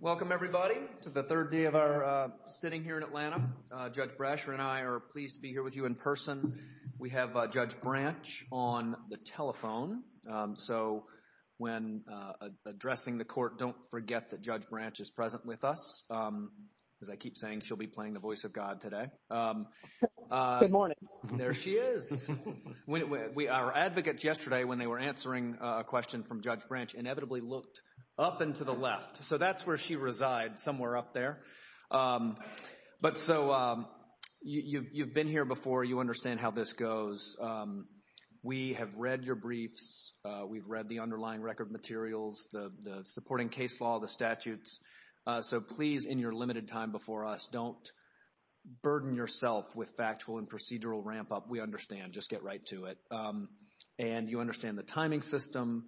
Welcome, everybody, to the third day of our sitting here in Atlanta. Judge Brasher and I are pleased to be here with you in person. We have Judge Branch on the telephone, so when addressing the court, don't forget that Judge Branch is present with us. As I keep saying, she'll be playing the voice of God today. Good morning. There she is. Our advocates yesterday, when they were answering a question from Judge Branch, inevitably looked up and to the left. So that's where she resides, somewhere up there. But so, you've been here before, you understand how this goes. We have read your briefs, we've read the underlying record materials, the supporting case law, the statutes. So please, in your limited time before us, don't burden yourself with factual and procedural ramp up. We understand. Just get right to it. And you understand the timing system.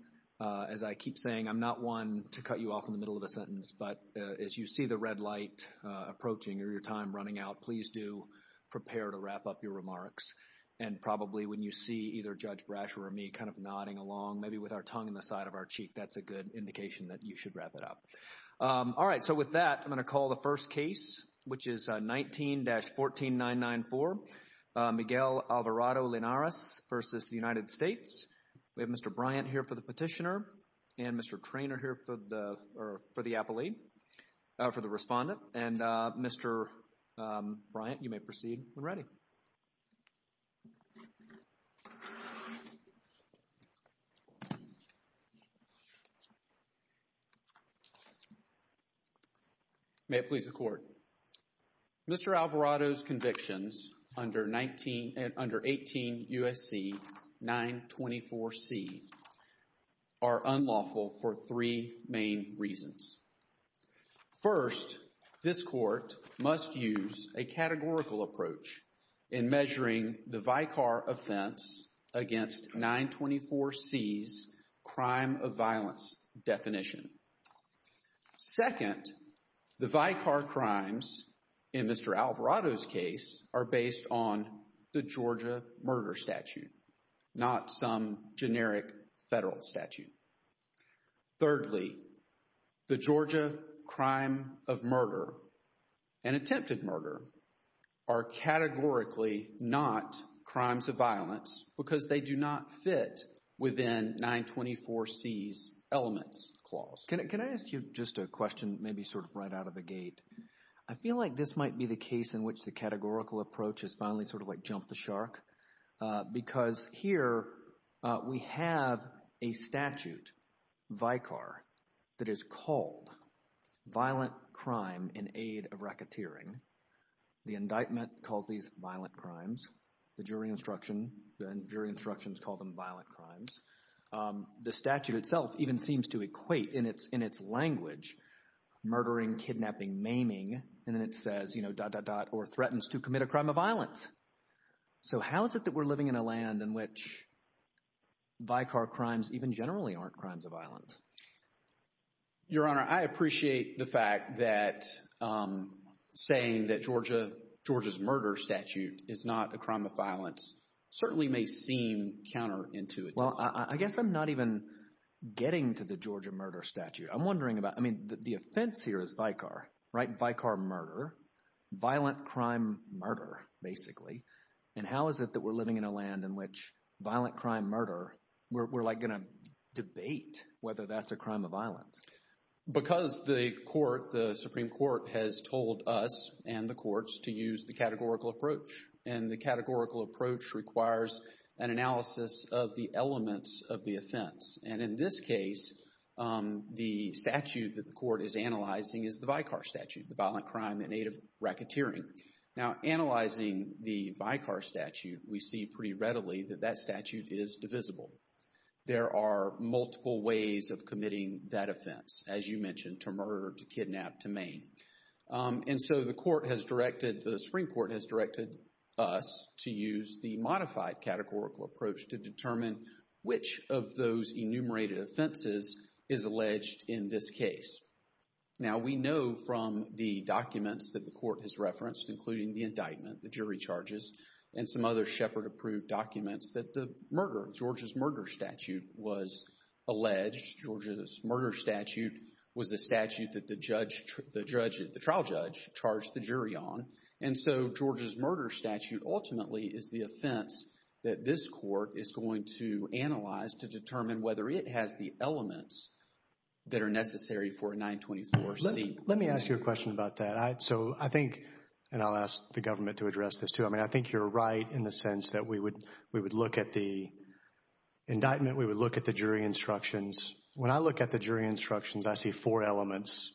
As I keep saying, I'm not one to cut you off in the middle of a sentence, but as you see the red light approaching or your time running out, please do prepare to wrap up your remarks. And probably when you see either Judge Brasher or me kind of nodding along, maybe with our tongue in the side of our cheek, that's a good indication that you should wrap it up. All right. So with that, I'm going to call the first case, which is 19-14994, Miguel Alvarado Linares versus the United States. We have Mr. Bryant here for the petitioner and Mr. Traynor here for the appellee, for the respondent. And Mr. Bryant, you may proceed when ready. May it please the Court. Mr. Alvarado's convictions under 18 U.S.C. 924c are unlawful for three main reasons. First, this Court must use a categorical approach in measuring the Vicar offense against 924c's crime of violence definition. Second, the Vicar crimes in Mr. Alvarado's case are based on the Georgia murder statute, not some generic federal statute. Thirdly, the Georgia crime of murder and attempted murder are categorically not crimes of violence because they do not fit within 924c's elements clause. Can I ask you just a question, maybe sort of right out of the gate? I feel like this might be the case in which the categorical approach is finally sort of like jump the shark because here we have a statute, Vicar, that is called violent crime in aid of racketeering. The indictment calls these violent crimes. The jury instruction, the jury instructions call them violent crimes. The statute itself even seems to equate in its language, murdering, kidnapping, maiming, and then it says, you know, dot, dot, dot, or threatens to commit a crime of violence. So how is it that we're living in a land in which Vicar crimes even generally aren't crimes of violence? Your Honor, I appreciate the fact that saying that Georgia, Georgia's murder statute is not a crime of violence certainly may seem counterintuitive. Well, I guess I'm not even getting to the Georgia murder statute. I'm wondering about, I mean, the offense here is Vicar, right? Vicar murder, violent crime murder, basically. And how is it that we're living in a land in which violent crime murder, we're like going to debate whether that's a crime of violence? Because the court, the Supreme Court has told us and the courts to use the categorical approach. And the categorical approach requires an analysis of the elements of the offense. And in this case, the statute that the court is analyzing is the Vicar statute, the violent crime in aid of racketeering. Now analyzing the Vicar statute, we see pretty readily that that statute is divisible. There are multiple ways of committing that offense. As you mentioned, to murder, to kidnap, to maim. And so the court has directed, the Supreme Court has directed us to use the modified categorical approach to determine which of those enumerated offenses is alleged in this case. Now, we know from the documents that the court has referenced, including the indictment, the jury charges, and some other Shepard approved documents that the murder, Georgia's murder statute was alleged. Georgia's murder statute was a statute that the judge, the trial judge charged the jury on. And so Georgia's murder statute ultimately is the offense that this court is going to analyze to determine whether it has the elements that are necessary for a 924C. Let me ask you a question about that. So I think, and I'll ask the government to address this too, I mean, I think you're right in the sense that we would look at the indictment, we would look at the jury instructions. When I look at the jury instructions, I see four elements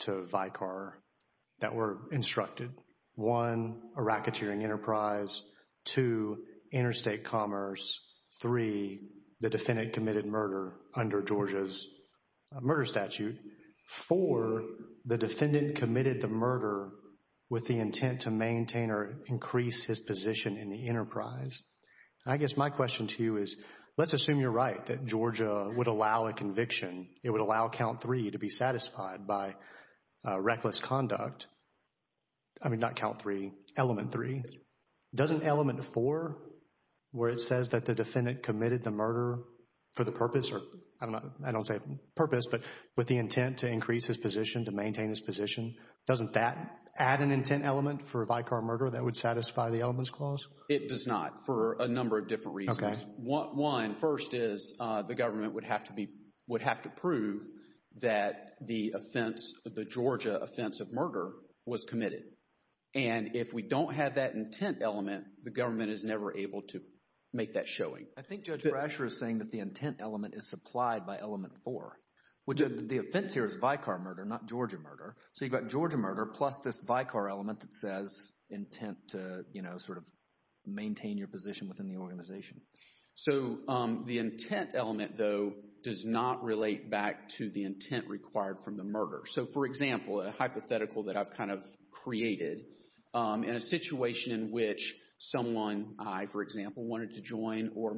to Vicar that were instructed. One, a racketeering enterprise. Two, interstate commerce. Three, the defendant committed murder under Georgia's murder statute. Four, the defendant committed the murder with the intent to maintain or increase his position in the enterprise. And I guess my question to you is, let's assume you're right, that Georgia would allow a conviction. It would allow count three to be satisfied by reckless conduct. I mean, not count three, element three. Doesn't element four, where it says that the defendant committed the murder for the purpose or, I don't know, I don't say purpose, but with the intent to increase his position, to maintain his position, doesn't that add an intent element for a Vicar murder that would satisfy the elements clause? It does not for a number of different reasons. One, first is the government would have to prove that the offense, the Georgia offense of murder was committed. And if we don't have that intent element, the government is never able to make that showing. I think Judge Brasher is saying that the intent element is supplied by element four, which the offense here is Vicar murder, not Georgia murder. So you've got Georgia murder plus this Vicar element that says intent to, you know, sort of maintain your position within the organization. So the intent element, though, does not relate back to the intent required from the murder. So, for example, a hypothetical that I've kind of created in a situation in which someone I, for example, wanted to join or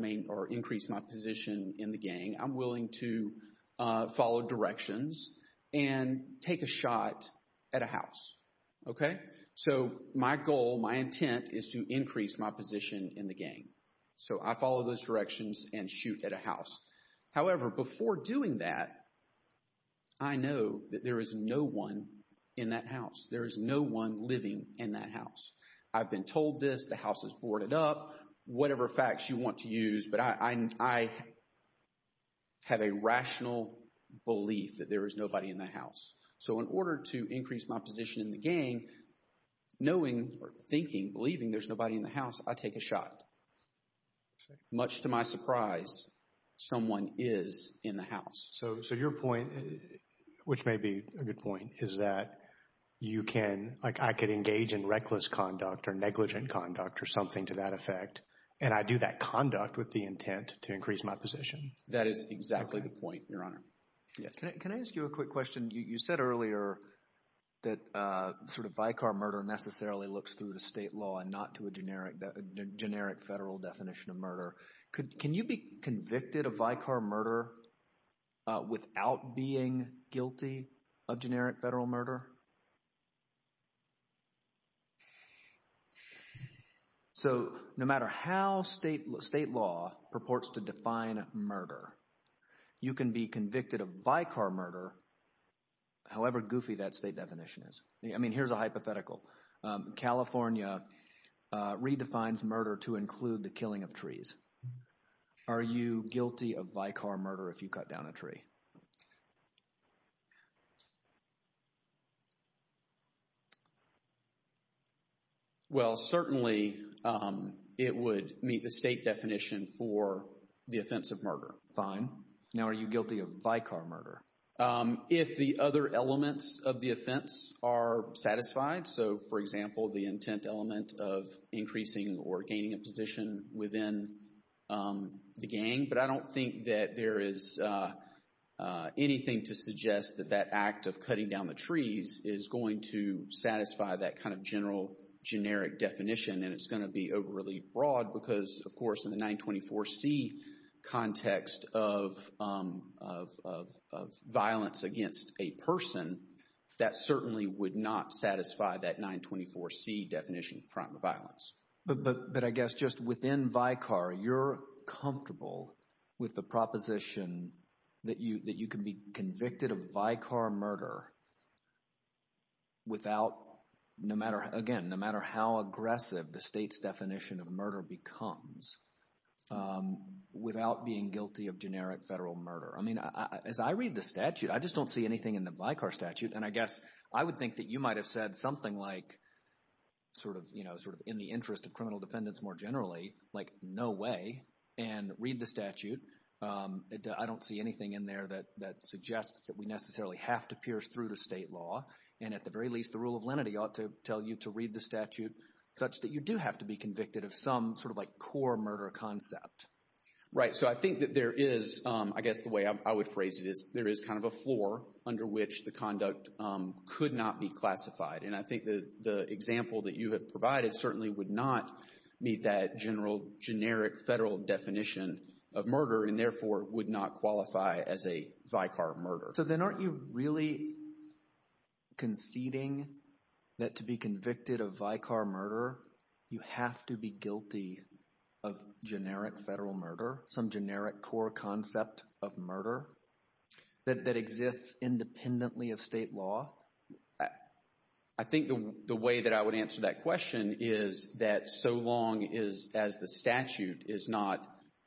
increase my position in the gang, I'm willing to follow directions and take a shot at a house. Okay? So my goal, my intent is to increase my position in the gang. So I follow those directions and shoot at a house. However, before doing that, I know that there is no one in that house. There is no one living in that house. I've been told this, the house is boarded up, whatever facts you want to use, but I have a rational belief that there is nobody in the house. So in order to increase my position in the gang, knowing or thinking, believing there's nobody in the house, I take a shot. Much to my surprise, someone is in the house. So your point, which may be a good point, is that you can, like I could engage in reckless conduct or negligent conduct or something to that effect. And I do that conduct with the intent to increase my position. That is exactly the point, Your Honor. Yes. Can I ask you a quick question? You said earlier that sort of vicar murder necessarily looks through to state law and not to a generic federal definition of murder. Can you be convicted of vicar murder without being guilty of generic federal murder? So, no matter how state law purports to define murder, you can be convicted of vicar murder, however goofy that state definition is. I mean, here's a hypothetical. California redefines murder to include the killing of trees. Are you guilty of vicar murder if you cut down a tree? Well, certainly, it would meet the state definition for the offense of murder. Fine. Now, are you guilty of vicar murder? If the other elements of the offense are satisfied, so, for example, the intent element of increasing or gaining a position within the gang, but I don't think that there is anything to suggest that that act of cutting down the trees is going to satisfy that kind of general, generic definition and it's going to be overly broad because, of course, in the 924C context of violence against a person, that certainly would not satisfy that 924C definition of crime of violence. But I guess just within vicar, you're comfortable with the proposition that you can be convicted of vicar murder without, no matter, again, no matter how aggressive the state's definition of murder becomes, without being guilty of generic federal murder. I mean, as I read the statute, I just don't see anything in the vicar statute, and I guess I would think that you might have said something like, sort of, you know, sort of in the interest of criminal defendants more generally, like, no way, and read the statute. I don't see anything in there that suggests that we necessarily have to pierce through to state law, and at the very least, the rule of lenity ought to tell you to read the statute such that you do have to be convicted of some sort of like core murder concept. Right. So, I think that there is, I guess the way I would phrase it is there is kind of a floor under which the conduct could not be classified, and I think the example that you have provided certainly would not meet that general, generic federal definition of murder, and therefore would not qualify as a vicar murder. So then aren't you really conceding that to be convicted of vicar murder, you have to be guilty of generic federal murder, some generic core concept of murder that exists independently of state law? I think the way that I would answer that question is that so long as the statute is not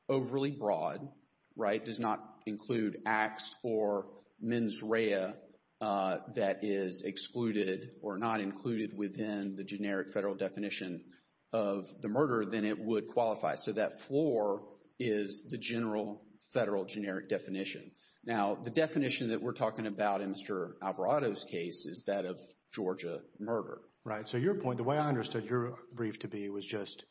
overly broad, right, does not include acts or mens rea that is excluded or not included within the generic federal definition of the murder, then it would qualify. So that floor is the general federal generic definition. Now the definition that we're talking about in Mr. Alvarado's case is that of Georgia murder. Right. So your point, the way I understood your brief to be was just,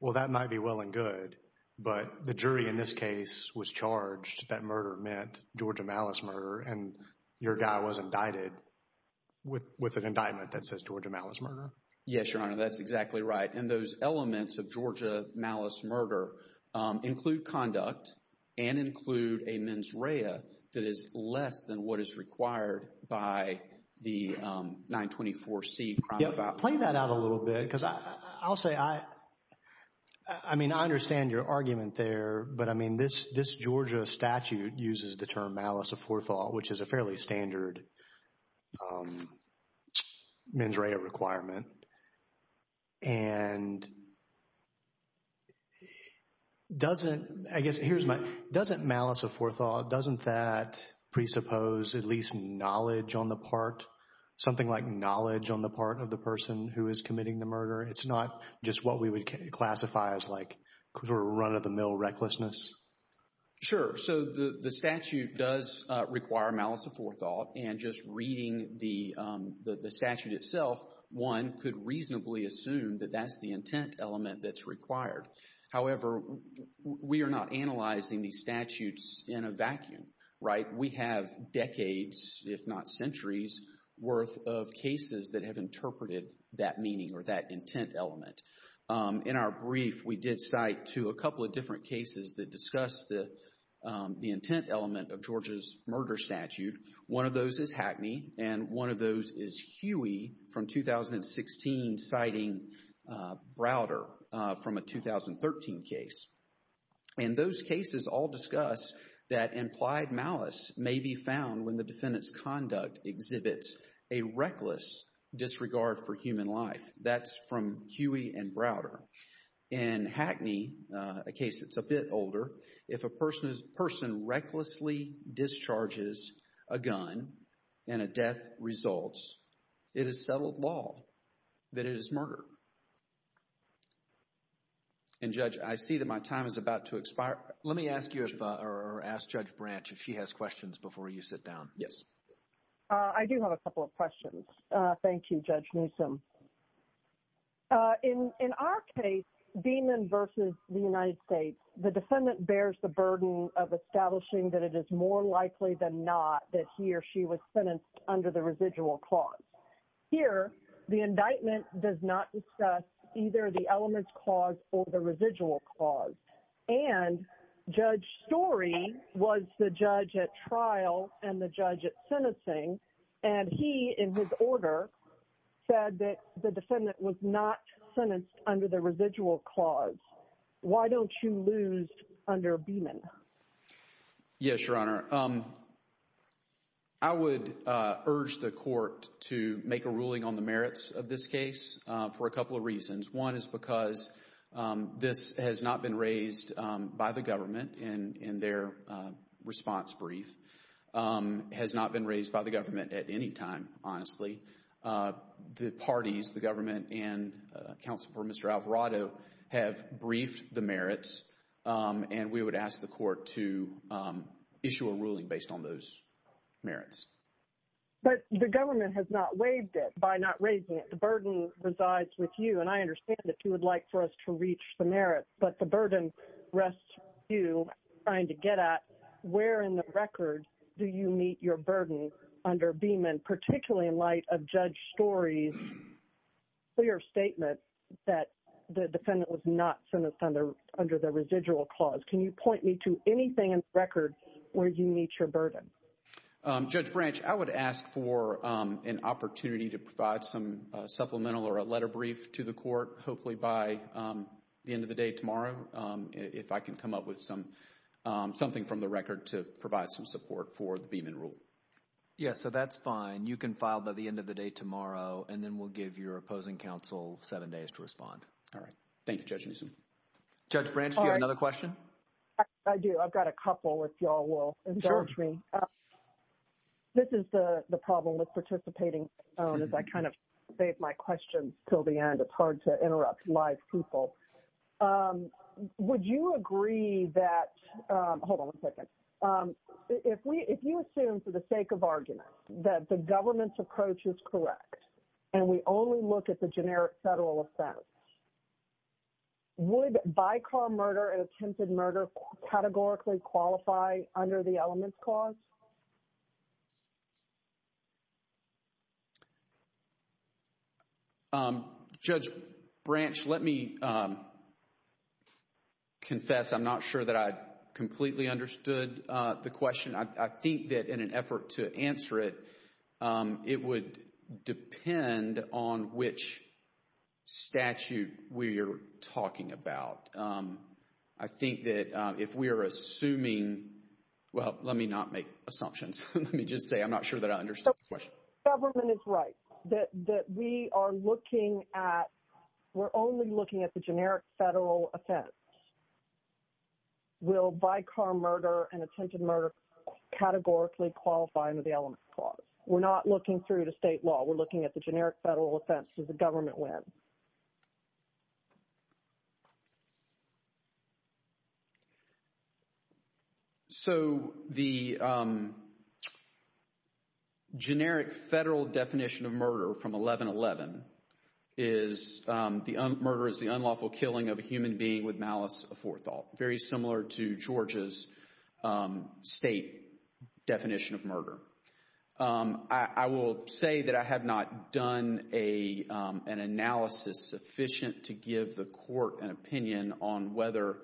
well that might be well and good, but the jury in this case was charged that murder meant Georgia malice murder, and your guy was indicted with an indictment that says Georgia malice murder. Yes, Your Honor, that's exactly right. And those elements of Georgia malice murder include conduct and include a mens rea that is less than what is required by the 924C. Play that out a little bit, because I'll say, I mean I understand your argument there, but I mean this Georgia statute uses the term malice of forethought, which is a fairly standard mens rea requirement. And doesn't, I guess here's my, doesn't malice of forethought, doesn't that presuppose at least knowledge on the part, something like knowledge on the part of the person who is committing the murder? It's not just what we would classify as like sort of run-of-the-mill recklessness? Sure. So the statute does require malice of forethought, and just reading the statute itself, one could reasonably assume that that's the intent element that's required. However, we are not analyzing these statutes in a vacuum, right? We have decades, if not centuries worth of cases that have interpreted that meaning or that intent element. In our brief, we did cite to a couple of different cases that discussed the intent element of Georgia's murder statute. One of those is Hackney, and one of those is Huey from 2016, citing Browder from a 2013 case. And those cases all discuss that implied malice may be found when the defendant's conduct exhibits a reckless disregard for human life. That's from Huey and Browder. In Hackney, a case that's a bit older, if a person recklessly discharges a gun and a death results, it is settled law that it is murder. And Judge, I see that my time is about to expire. Let me ask you or ask Judge Branch if she has questions before you sit down. Yes. I do have a couple of questions. Thank you, Judge Newsom. In our case, Beaman versus the United States, the defendant bears the burden of establishing that it is more likely than not that he or she was sentenced under the residual clause. Here, the indictment does not discuss either the elements clause or the residual clause. And Judge Story was the judge at trial and the judge at sentencing, and he, in his order, said that the defendant was not sentenced under the residual clause. Why don't you lose under Beaman? Yes, Your Honor. I would urge the court to make a ruling on the merits of this case for a couple of reasons. One is because this has not been raised by the government in their response brief, has not been raised by the government at any time, honestly. The parties, the government and counsel for Mr. Alvarado, have briefed the merits, and we would ask the court to issue a ruling based on those merits. But the government has not waived it by not raising it. The burden resides with you, and I understand that you would like for us to reach the merits, but the burden rests with you trying to get at where in the record do you meet your burden under Beaman, particularly in light of Judge Story's clear statement that the defendant was not sentenced under the residual clause. Can you point me to anything in the record where you meet your burden? Judge Branch, I would ask for an opportunity to provide some supplemental or a letter brief to the court, hopefully by the end of the day tomorrow, if I can come up with something from the record to provide some support for the Beaman rule. Yes, so that's fine. You can file by the end of the day tomorrow, and then we'll give your opposing counsel seven days to respond. All right. Thank you, Judge Newsom. Judge Branch, do you have another question? I do. I've got a couple, if you all will. Sure. Excuse me. This is the problem with participating as I kind of save my questions until the end. It's hard to interrupt live people. Would you agree that, hold on one second, if you assume for the sake of argument that the government's approach is correct, and we only look at the generic federal offense, would bycar murder and attempted murder categorically qualify under the elements clause? Judge Branch, let me confess, I'm not sure that I completely understood the question. I think that in an effort to answer it, it would depend on which statute we are talking about. I think that if we are assuming, well, let me not make assumptions, let me just say I'm not sure that I understand the question. Government is right, that we are looking at, we're only looking at the generic federal offense. Will bycar murder and attempted murder categorically qualify under the elements clause? We're not looking through the state law. We're looking at the generic federal offense that the government wins. So the generic federal definition of murder from 1111 is the murder is the unlawful killing of a human being with malice aforethought, very similar to Georgia's state definition of murder. I will say that I have not done an analysis sufficient to give the court an opinion on whether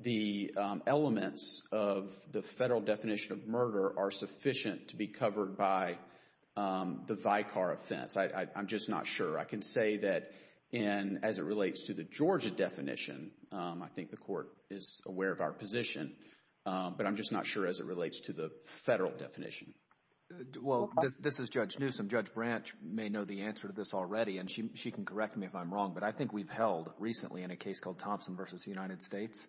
the elements of the federal definition of murder are sufficient to be covered by the vicar offense. I'm just not sure. I can say that as it relates to the Georgia definition, I think the court is aware of our position, but I'm just not sure as it relates to the federal definition. This is Judge Newsom. Judge Branch may know the answer to this already, and she can correct me if I'm wrong, but I think we've held recently in a case called Thompson v. United States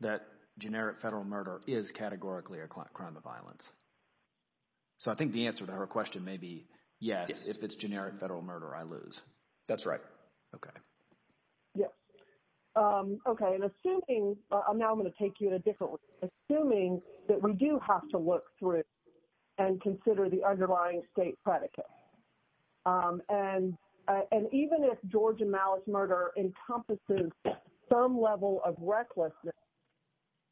that generic federal murder is categorically a crime of violence. So I think the answer to her question may be, yes, if it's generic federal murder, I lose. That's right. Okay. Yes. Okay. And assuming, now I'm going to take you in a different way, assuming that we do have to look through and consider the underlying state predicate, and even if Georgia malice murder encompasses some level of recklessness,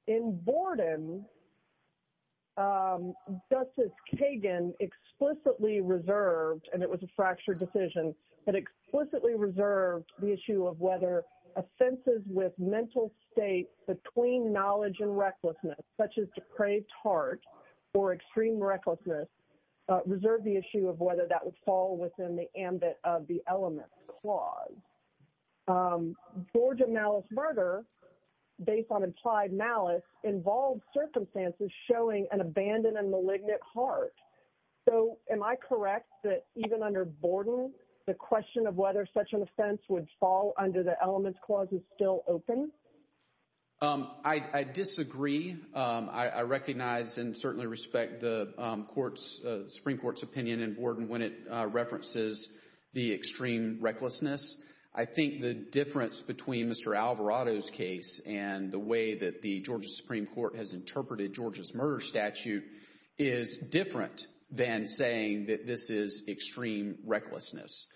in Borden, Justice Kagan explicitly reserved, and it was a fractured decision, but explicitly reserved the issue of whether offenses with mental state between knowledge and recklessness, such as depraved heart or extreme recklessness, reserved the issue of whether that would fall within the ambit of the elements clause. Georgia malice murder, based on implied malice, involved circumstances showing an abandoned and malignant heart. So am I correct that even under Borden, the question of whether such an offense would fall under the elements clause is still open? I disagree. I recognize and certainly respect the Supreme Court's opinion in Borden when it references the extreme recklessness. I think the difference between Mr. Alvarado's case and the way that the Georgia Supreme Court has interpreted Georgia's murder statute is different than saying that this is extreme recklessness.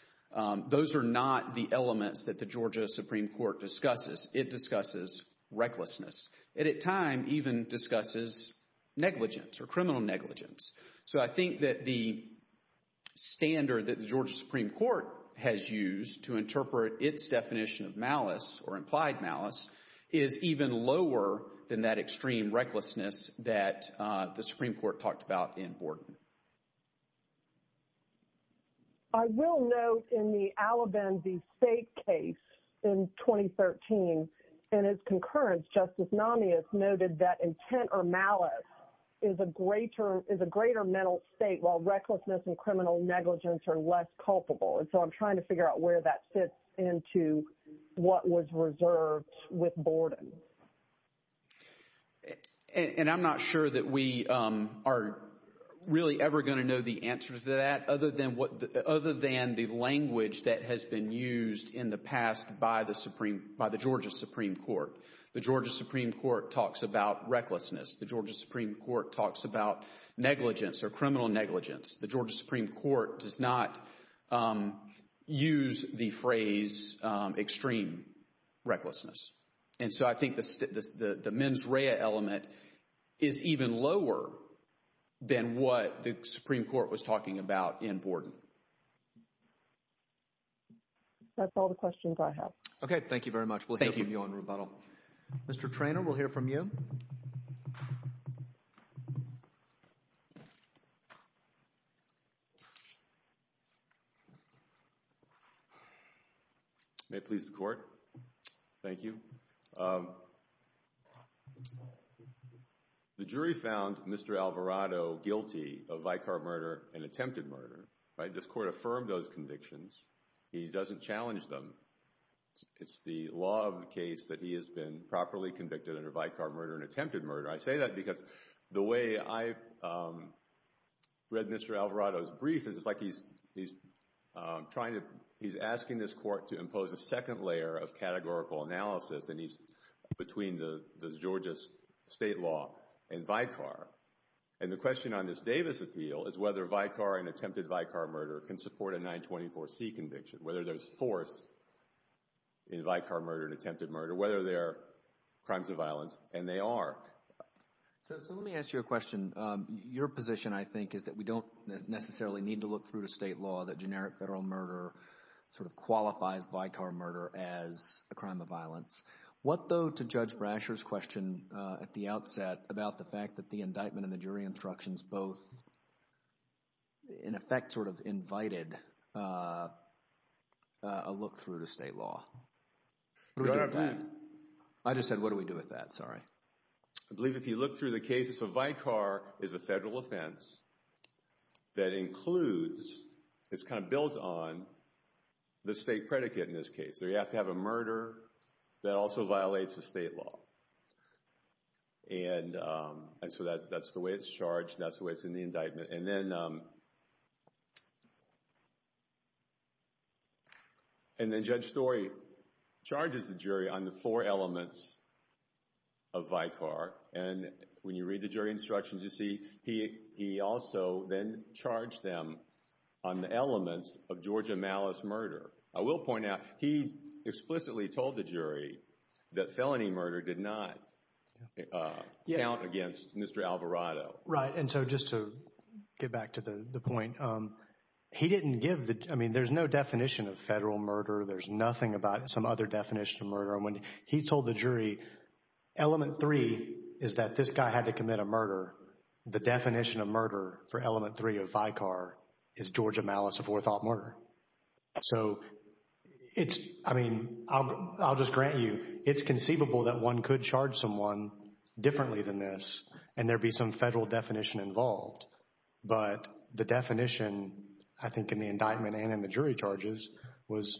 Those are not the elements that the Georgia Supreme Court discusses. It discusses recklessness. It, at times, even discusses negligence or criminal negligence. So I think that the standard that the Georgia Supreme Court has used to interpret its definition of malice or implied malice is even lower than that extreme recklessness that the Supreme Court talked about in Borden. I will note in the Alabamby State case in 2013, in its concurrence, Justice Namias noted that intent or malice is a greater mental state while recklessness and criminal negligence are less culpable. And so I'm trying to figure out where that fits into what was reserved with Borden. And I'm not sure that we are really ever going to know the answer to that other than the language that has been used in the past by the Georgia Supreme Court. The Georgia Supreme Court talks about recklessness. The Georgia Supreme Court talks about negligence or criminal negligence. The Georgia Supreme Court does not use the phrase extreme recklessness. And so I think the mens rea element is even lower than what the Supreme Court was talking about in Borden. That's all the questions I have. Okay. Thank you very much. Thank you. We'll hear from you on rebuttal. Mr. Treanor, we'll hear from you. May it please the Court. Thank you. The jury found Mr. Alvarado guilty of vicar murder and attempted murder. This Court affirmed those convictions. He doesn't challenge them. It's the law of the case that he has been properly convicted under vicar murder and attempted murder. I say that because the way I read Mr. Alvarado's brief is it's like he's trying to, he's asking this Court to impose a second layer of categorical analysis and he's between the Georgia state law and vicar. And the question on this Davis appeal is whether vicar and attempted vicar murder can support a 924C conviction, whether there's force in vicar murder and attempted murder, whether they're crimes of violence, and they are. So let me ask you a question. Your position, I think, is that we don't necessarily need to look through the state law that generic federal murder sort of qualifies vicar murder as a crime of violence. What though, to Judge Brasher's question at the outset about the fact that the indictment and the jury instructions both, in effect, sort of invited a look through to state law? What do we do with that? I just said what do we do with that, sorry. I believe if you look through the cases of vicar, it's a federal offense that includes, it's kind of built on the state predicate in this case, so you have to have a murder that also violates the state law. And so that's the way it's charged, that's the way it's in the indictment. And then Judge Story charges the jury on the four elements of vicar, and when you read the jury instructions, you see he also then charged them on the elements of Georgia malice murder. I will point out, he explicitly told the jury that felony murder did not count against Mr. Alvarado. Right, and so just to get back to the point, he didn't give the, I mean there's no definition of federal murder, there's nothing about some other definition of murder, and when he told the jury element three is that this guy had to commit a murder, the definition of murder for element three of vicar is Georgia malice of forethought murder. So it's, I mean, I'll just grant you, it's conceivable that one could charge someone differently than this, and there'd be some federal definition involved. But the definition, I think in the indictment and in the jury charges, was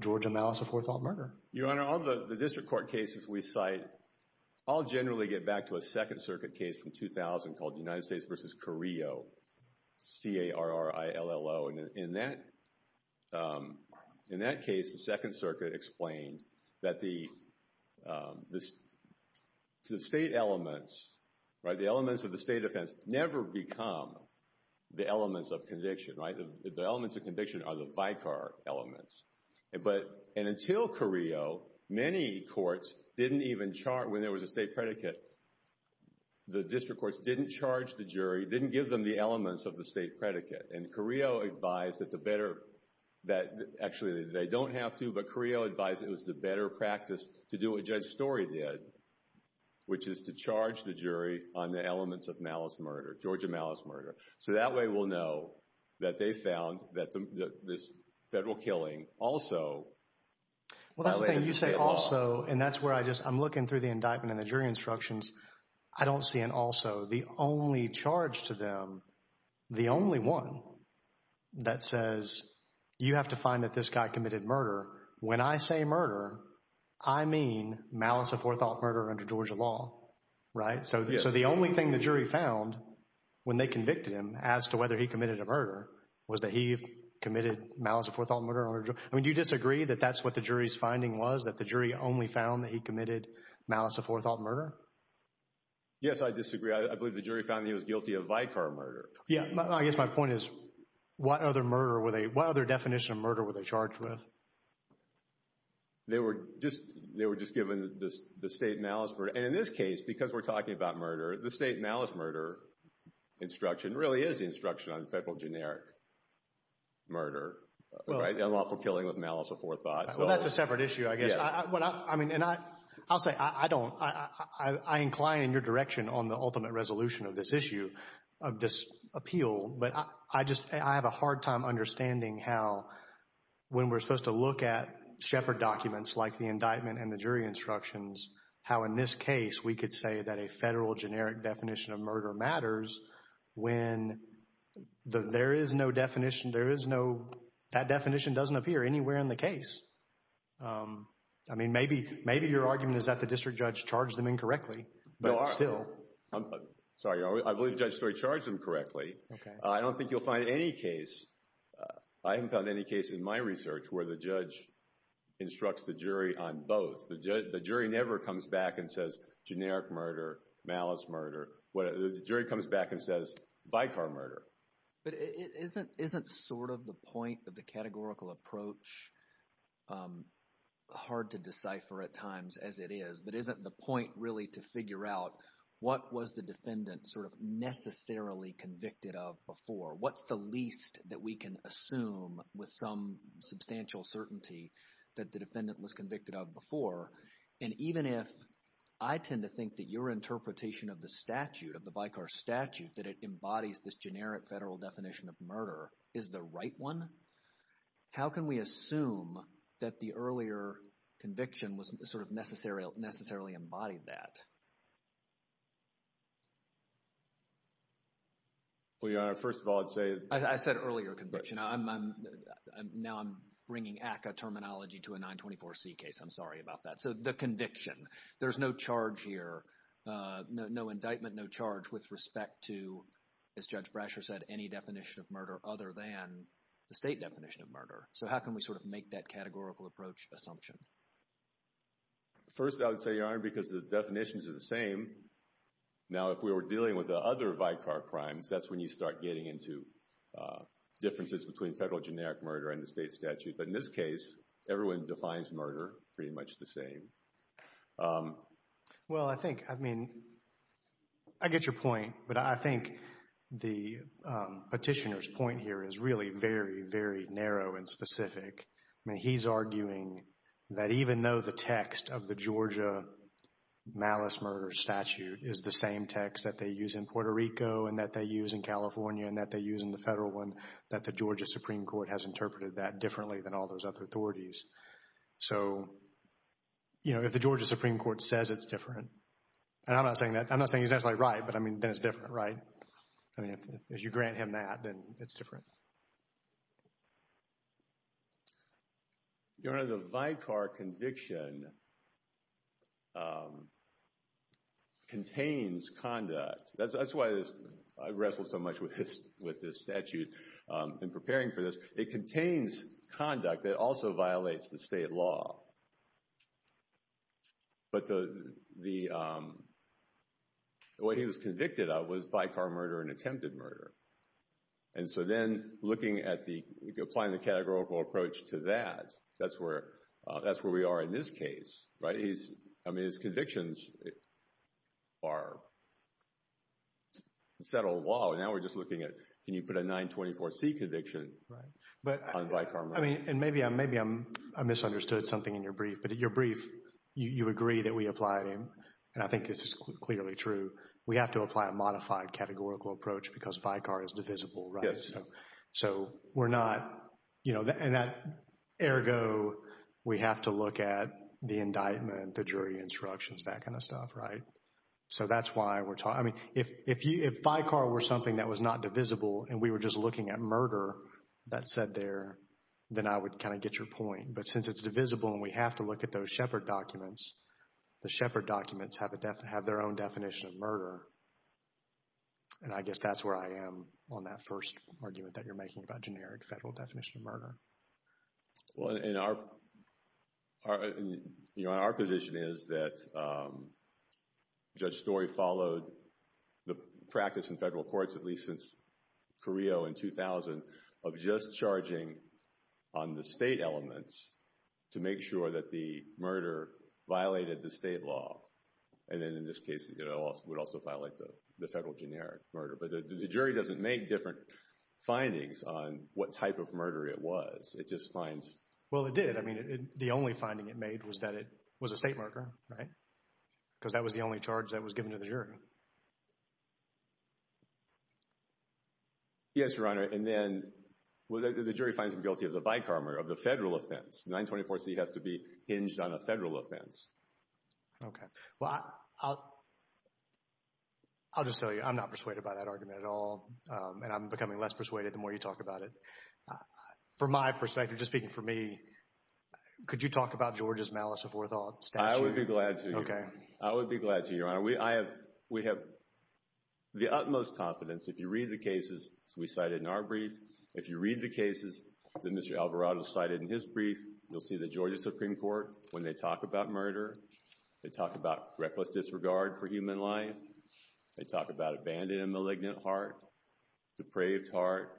Georgia malice of forethought murder. Your Honor, on the district court cases we cite, I'll generally get back to a Second Circuit case from 2000 called United States v. Carrillo, C-A-R-R-I-L-L-O, and in that case, the Second Circuit explained that the state elements, right, the elements of the state offense never become the elements of conviction, right, the elements of conviction are the vicar elements. But, and until Carrillo, many courts didn't even charge, when there was a state predicate, the district courts didn't charge the jury, didn't give them the elements of the state predicate, and Carrillo advised that the better, that actually they don't have to, but Carrillo advised it was the better practice to do what Judge Story did, which is to charge the jury on the elements of malice murder, Georgia malice murder. So that way we'll know that they found that this federal killing also violated the state law. Well, that's the thing, you say also, and that's where I just, I'm looking through the indictment and the jury instructions, I don't see an also. The only charge to them, the only one that says, you have to find that this guy committed murder, when I say murder, I mean malice of forethought murder under Georgia law, right? So the only thing the jury found when they convicted him as to whether he committed a murder was that he committed malice of forethought murder under Georgia, I mean, do you disagree that that's what the jury's finding was, that the jury only found that he committed malice of forethought murder? Yes, I disagree. I believe the jury found that he was guilty of vicar murder. Yeah, I guess my point is, what other murder were they, what other definition of murder were they charged with? They were just, they were just given the state malice murder, and in this case, because we're talking about murder, the state malice murder instruction really is the instruction on federal generic murder, right, unlawful killing with malice of forethought. Well, that's a separate issue, I guess, and I'll say, I don't, I incline in your direction on the ultimate resolution of this issue, of this appeal, but I just, I have a hard time understanding how, when we're supposed to look at Shepard documents like the indictment and the jury instructions, how in this case we could say that a federal generic definition of murder matters, when there is no definition, there is no, that definition doesn't appear anywhere in the case. I mean, maybe, maybe your argument is that the district judge charged them incorrectly, but still. Sorry, I believe Judge Story charged them correctly. I don't think you'll find any case, I haven't found any case in my research where the judge instructs the jury on both. The jury never comes back and says generic murder, malice murder, the jury comes back and says vicar murder. But isn't, isn't sort of the point of the categorical approach hard to decipher at times as it is, but isn't the point really to figure out what was the defendant sort of necessarily convicted of before, what's the least that we can assume with some substantial certainty that the defendant was convicted of before, and even if I tend to think that your interpretation of the statute, of the vicar statute, that it embodies this generic federal definition of murder, is the right one? How can we assume that the earlier conviction was sort of necessarily, necessarily embodied that? Well, Your Honor, first of all, I'd say. I said earlier conviction, now I'm bringing ACCA terminology to a 924C case, I'm sorry about that. So the conviction, there's no charge here, no indictment, no charge with respect to, as Judge Brasher said, any definition of murder other than the state definition of murder. So how can we sort of make that categorical approach assumption? First I would say, Your Honor, because the definitions are the same, now if we were dealing with the other vicar crimes, that's when you start getting into differences between federal generic murder and the state statute, but in this case, everyone defines murder pretty much the same. Well, I think, I mean, I get your point, but I think the petitioner's point here is really very, very narrow and specific. I mean, he's arguing that even though the text of the Georgia malice murder statute is the same text that they use in Puerto Rico and that they use in California and that they use in the federal one, that the Georgia Supreme Court has interpreted that differently than all those other authorities. So, you know, if the Georgia Supreme Court says it's different, and I'm not saying that, I'm not saying he's actually right, but I mean, then it's different, right? I mean, if you grant him that, then it's different. Your Honor, the vicar conviction contains conduct. That's why I wrestled so much with this statute in preparing for this. It contains conduct that also violates the state law. But what he was convicted of was vicar murder and attempted murder. And so then looking at the, applying the categorical approach to that, that's where we are in this case, right? I mean, his convictions are settled law, and now we're just looking at, can you put a 924C conviction on vicar murder? I mean, and maybe I misunderstood something in your brief, but in your brief, you agree that we apply, and I think this is clearly true, we have to apply a modified categorical approach because vicar is divisible, right? So we're not, you know, and that ergo, we have to look at the indictment, the jury instructions, that kind of stuff, right? So that's why we're talking, I mean, if vicar were something that was not divisible and we were just looking at murder that's said there, then I would kind of get your point. But since it's divisible and we have to look at those Shepard documents, the Shepard documents have their own definition of murder, and I guess that's where I am on that first argument that you're making about generic federal definition of murder. Well, and our, you know, our position is that Judge Story followed the practice in federal courts, at least since Carrillo in 2000, of just charging on the state elements to make sure that the murder violated the state law, and then in this case, you know, would also violate the federal generic murder. But the jury doesn't make different findings on what type of murder it was. It just finds... Well, it did. I mean, the only finding it made was that it was a state murder, right? Because that was the only charge that was given to the jury. Yes, Your Honor, and then, well, the jury finds him guilty of the vicar murder, of the federal offense. The 924C has to be hinged on a federal offense. Okay. Well, I'll just tell you, I'm not persuaded by that argument at all, and I'm becoming less persuaded the more you talk about it. From my perspective, just speaking for me, could you talk about George's malice before the statute? I would be glad to. Okay. I would be glad to, Your Honor. We have the utmost confidence, if you read the cases we cited in our brief, if you read the cases that Mr. Alvarado cited in his brief, you'll see the Georgia Supreme Court, when they talk about murder, they talk about reckless disregard for human life, they talk about abandoning a malignant heart, depraved heart,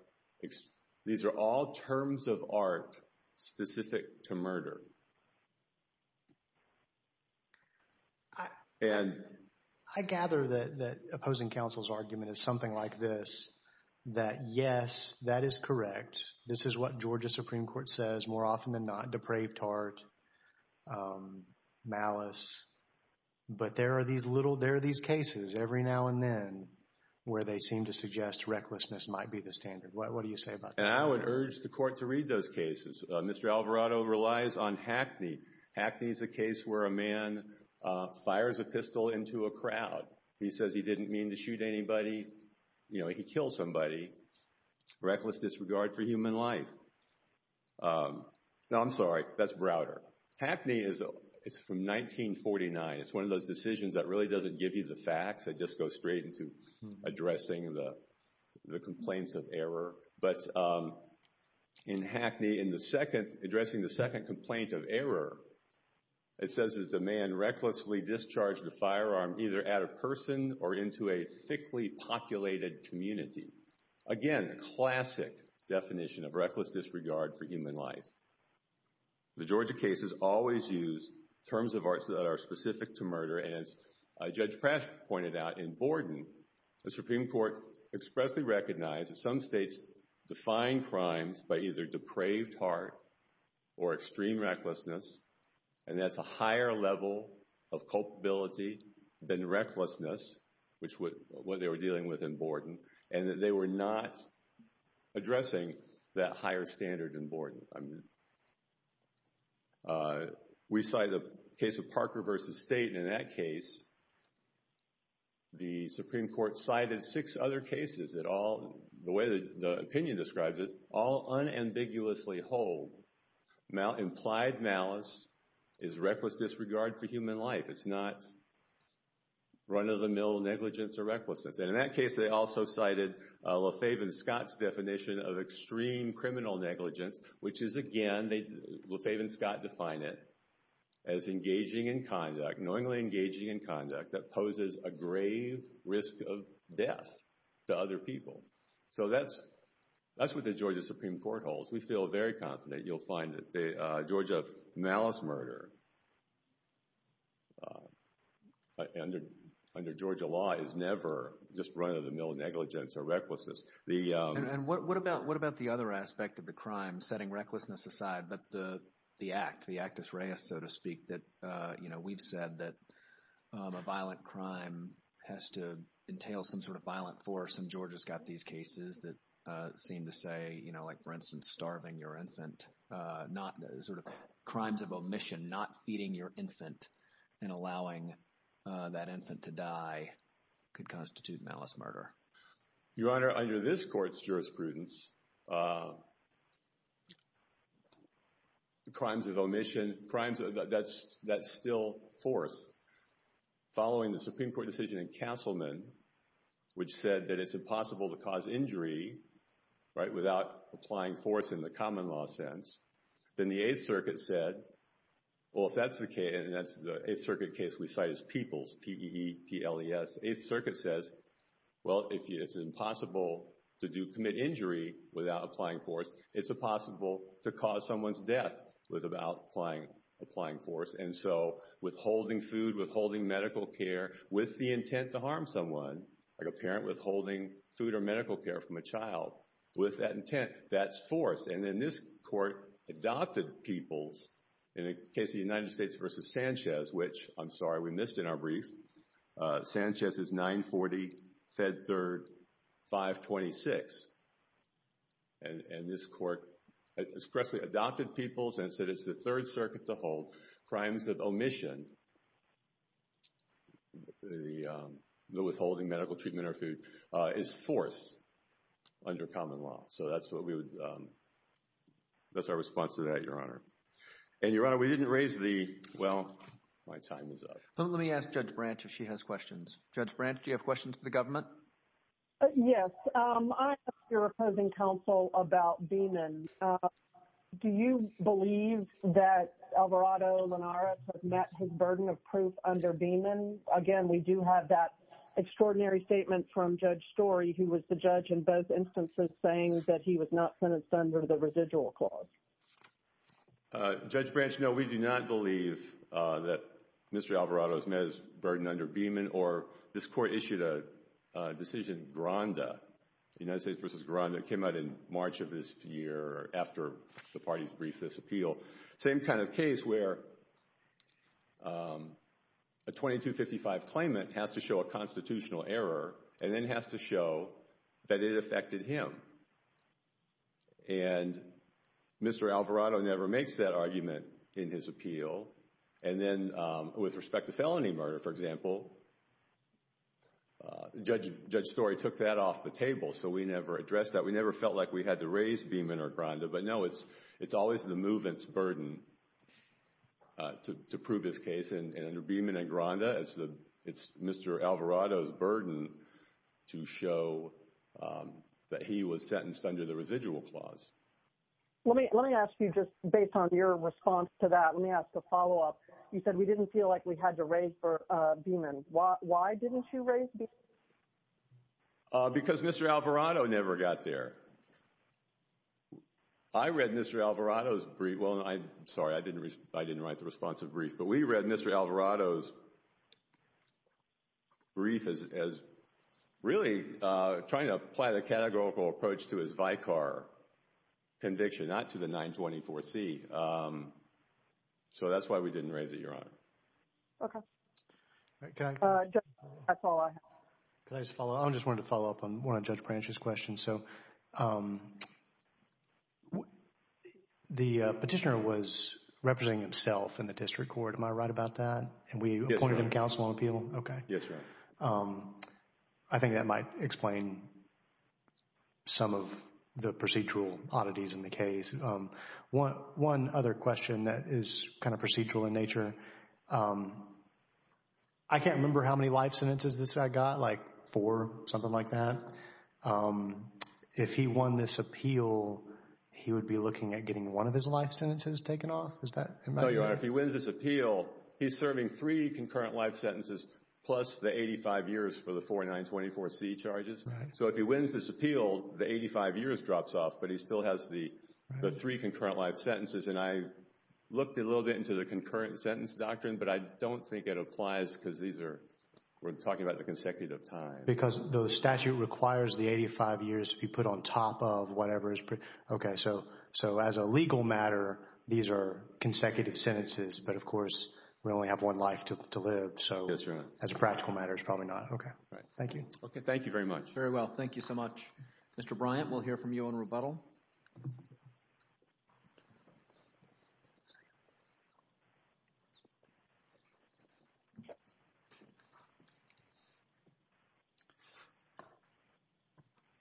these are all terms of art specific to murder. And I gather that the opposing counsel's argument is something like this, that yes, that is correct. This is what Georgia Supreme Court says more often than not, depraved heart, malice. But there are these little, there are these cases every now and then where they seem to suggest recklessness might be the standard. What do you say about that? And I would urge the court to read those cases. Mr. Alvarado relies on Hackney. Hackney is a case where a man fires a pistol into a crowd. He says he didn't mean to shoot anybody, you know, he killed somebody. Reckless disregard for human life. No, I'm sorry, that's Browder. Hackney is from 1949. It's one of those decisions that really doesn't give you the facts, it just goes straight into addressing the complaints of error. But in Hackney, in the second, addressing the second complaint of error, it says that the man recklessly discharged a firearm either at a person or into a thickly populated community. Again, classic definition of reckless disregard for human life. The Georgia cases always use terms of arts that are specific to murder, and as Judge was defining crimes by either depraved heart or extreme recklessness, and that's a higher level of culpability than recklessness, which is what they were dealing with in Borden, and that they were not addressing that higher standard in Borden. We cited the case of Parker v. State, and in that case, the Supreme Court cited six other cases that all, the way the opinion describes it, all unambiguously hold implied malice is reckless disregard for human life. It's not run-of-the-mill negligence or recklessness, and in that case, they also cited LaFave and Scott's definition of extreme criminal negligence, which is again, LaFave and Scott define it as engaging in conduct, knowingly engaging in conduct that poses a grave risk of death to other people. So that's what the Georgia Supreme Court holds. We feel very confident, you'll find that the Georgia malice murder under Georgia law is never just run-of-the-mill negligence or recklessness. And what about the other aspect of the crime, setting recklessness aside, but the act, the bias, so to speak, that, you know, we've said that a violent crime has to entail some sort of violent force, and Georgia's got these cases that seem to say, you know, like for instance, starving your infant, not, sort of crimes of omission, not feeding your infant and allowing that infant to die could constitute malice murder. Your Honor, under this court's jurisprudence, crimes of omission, crimes that still force, following the Supreme Court decision in Castleman, which said that it's impossible to cause injury, right, without applying force in the common law sense, then the Eighth Circuit said, well, if that's the case, and that's the Eighth Circuit case we cite as PEEPLES, P-E-E-P-L-E-S, the Eighth Circuit says, well, if it's impossible to commit injury without applying force, it's impossible to cause someone's death without applying force, and so withholding food, withholding medical care with the intent to harm someone, like a parent withholding food or medical care from a child, with that intent, that's force. And then this court adopted PEEPLES in the case of the United States v. Sanchez, which, I'm sorry, we missed in our brief. Sanchez is 940 Fed Third 526. And this court expressly adopted PEEPLES and said it's the Third Circuit to hold crimes of omission, the withholding medical treatment or food, is force under common law. So that's what we would, that's our response to that, Your Honor. And Your Honor, we didn't raise the, well, my time is up. Let me ask Judge Branch if she has questions. Judge Branch, do you have questions for the government? Yes, I'm here opposing counsel about Beeman. Do you believe that Alvarado Linares has met his burden of proof under Beeman? Again, we do have that extraordinary statement from Judge Story, who was the judge in both Judge Branch, no, we do not believe that Mr. Alvarado has met his burden under Beeman. Or this court issued a decision, Garanda, United States v. Garanda, came out in March of this year after the parties briefed this appeal. Same kind of case where a 2255 claimant has to show a constitutional error and then has to show that it affected him. And Mr. Alvarado never makes that argument in his appeal. And then with respect to felony murder, for example, Judge Story took that off the table, so we never addressed that. We never felt like we had to raise Beeman or Garanda, but no, it's always the movement's burden to prove his case. And under Beeman and Garanda, it's Mr. Alvarado's burden to show that he was sentenced under the residual clause. Let me ask you, just based on your response to that, let me ask a follow-up. You said we didn't feel like we had to raise Beeman. Why didn't you raise Beeman? Because Mr. Alvarado never got there. I read Mr. Alvarado's brief, well, I'm sorry, I didn't write the responsive brief, but we read Mr. Alvarado's brief as really trying to apply the categorical approach to his Vicar conviction, not to the 924C. So that's why we didn't raise it, Your Honor. Okay. Can I just follow up on one of Judge Branch's questions? So the petitioner was representing himself in the district court. Am I right about that? Yes, Your Honor. And we appointed him counsel on appeal? Okay. Yes, Your Honor. I think that might explain some of the procedural oddities in the case. One other question that is kind of procedural in nature, I can't remember how many life sentences this guy got, like four, something like that. If he won this appeal, he would be looking at getting one of his life sentences taken off? Is that right? No, Your Honor. If he wins this appeal, he's serving three concurrent life sentences plus the 85 years for the 4924C charges. So if he wins this appeal, the 85 years drops off, but he still has the three concurrent life sentences. And I looked a little bit into the concurrent sentence doctrine, but I don't think it applies because these are, we're talking about the consecutive time. Because the statute requires the 85 years to be put on top of whatever is, okay. So as a legal matter, these are consecutive sentences, but of course, we only have one life to live. Yes, Your Honor. So as a practical matter, it's probably not. Okay. All right. Thank you. Okay. Thank you very much. Very well. Thank you so much. Mr. Bryant, we'll hear from you on rebuttal.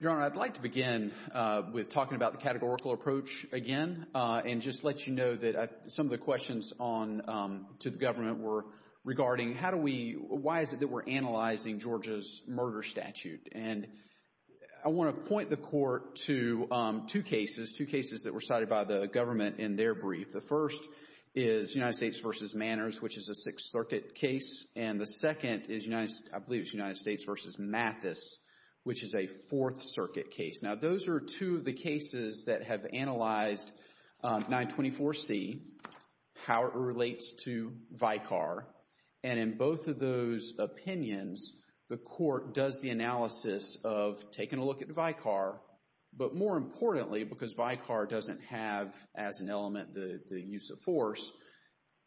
Your Honor, I'd like to begin with talking about the categorical approach again and just let you know that some of the questions on, to the government were regarding how do we, why is it that we're analyzing Georgia's murder statute? And I want to point the Court to two cases, two cases that were cited by the government in their brief. The first is United States v. Manners, which is a Sixth Circuit case. And the second is, I believe it's United States v. Mathis, which is a Fourth Circuit case. Now those are two of the cases that have analyzed 924C, how it relates to Vicar. And in both of those opinions, the Court does the analysis of taking a look at Vicar. But more importantly, because Vicar doesn't have as an element the use of force,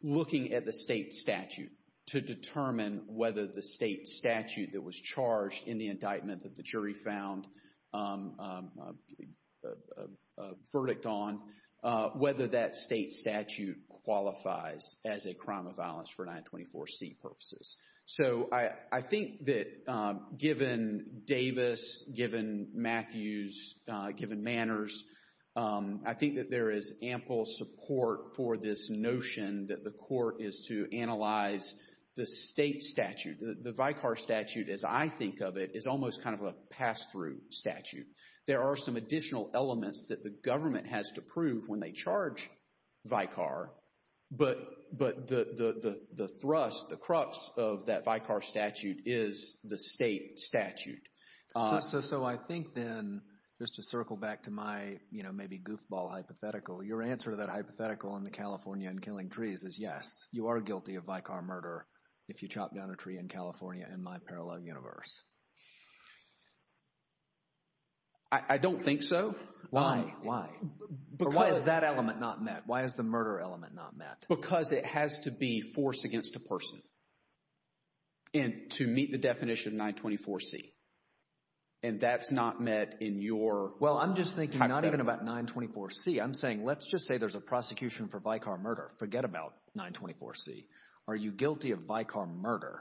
looking at the state statute to determine whether the state statute that was charged in the indictment that the jury found a verdict on, whether that state statute qualifies as a verdict for 924C purposes. So I think that given Davis, given Mathis, given Manners, I think that there is ample support for this notion that the Court is to analyze the state statute. The Vicar statute, as I think of it, is almost kind of a pass-through statute. There are some additional elements that the government has to prove when they charge Vicar. But the thrust, the crux of that Vicar statute is the state statute. So I think then, just to circle back to my, you know, maybe goofball hypothetical, your answer to that hypothetical on the California and killing trees is yes, you are guilty of Vicar murder if you chop down a tree in California in my parallel universe. I don't think so. Why? Why? Why is that element not met? Why is the murder element not met? Because it has to be forced against a person to meet the definition of 924C. And that's not met in your hypothetical. Well, I'm just thinking not even about 924C, I'm saying let's just say there's a prosecution for Vicar murder. Forget about 924C. Are you guilty of Vicar murder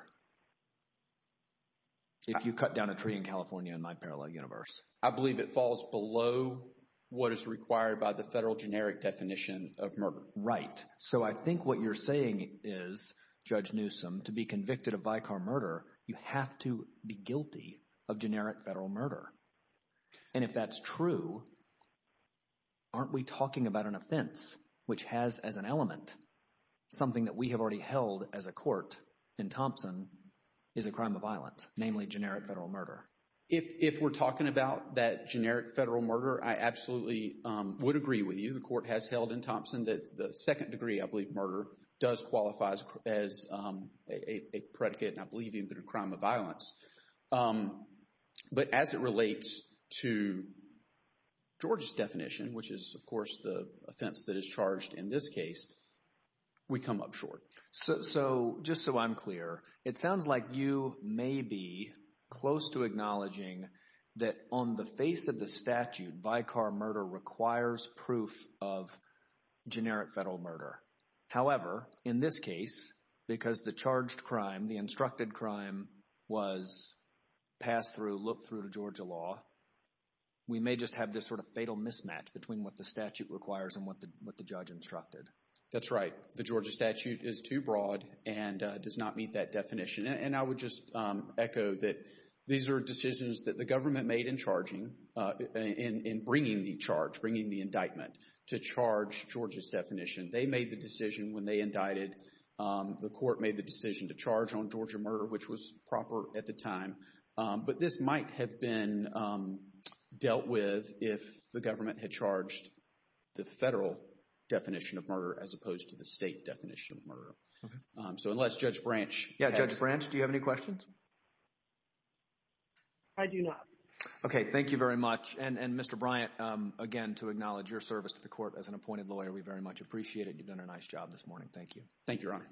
if you cut down a tree in California in my parallel universe? I believe it falls below what is required by the federal generic definition of murder. Right. So I think what you're saying is, Judge Newsom, to be convicted of Vicar murder, you have to be guilty of generic federal murder. And if that's true, aren't we talking about an offense which has as an element something that we have already held as a court in Thompson is a crime of violence, namely generic federal murder? If we're talking about that generic federal murder, I absolutely would agree with you. The court has held in Thompson that the second degree, I believe, murder does qualify as a predicate, and I believe even a crime of violence. But as it relates to George's definition, which is, of course, the offense that is charged in this case, we come up short. So just so I'm clear, it sounds like you may be close to acknowledging that on the face of the statute, Vicar murder requires proof of generic federal murder. However, in this case, because the charged crime, the instructed crime was passed through, looked through to Georgia law, we may just have this sort of fatal mismatch between what the statute requires and what the judge instructed. That's right. The Georgia statute is too broad and does not meet that definition. And I would just echo that these are decisions that the government made in charging, in bringing the charge, bringing the indictment to charge Georgia's definition. They made the decision when they indicted. The court made the decision to charge on Georgia murder, which was proper at the time. But this might have been dealt with if the government had charged the federal definition of murder as opposed to the state definition of murder. So unless Judge Branch. Yeah. Judge Branch, do you have any questions? I do not. Okay. Thank you very much. And Mr. Bryant, again, to acknowledge your service to the court as an appointed lawyer, we very much appreciate it. You've done a nice job this morning. Thank you. Thank you, Your Honor.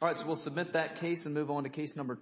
All right. So we'll submit that case and move on to case number two.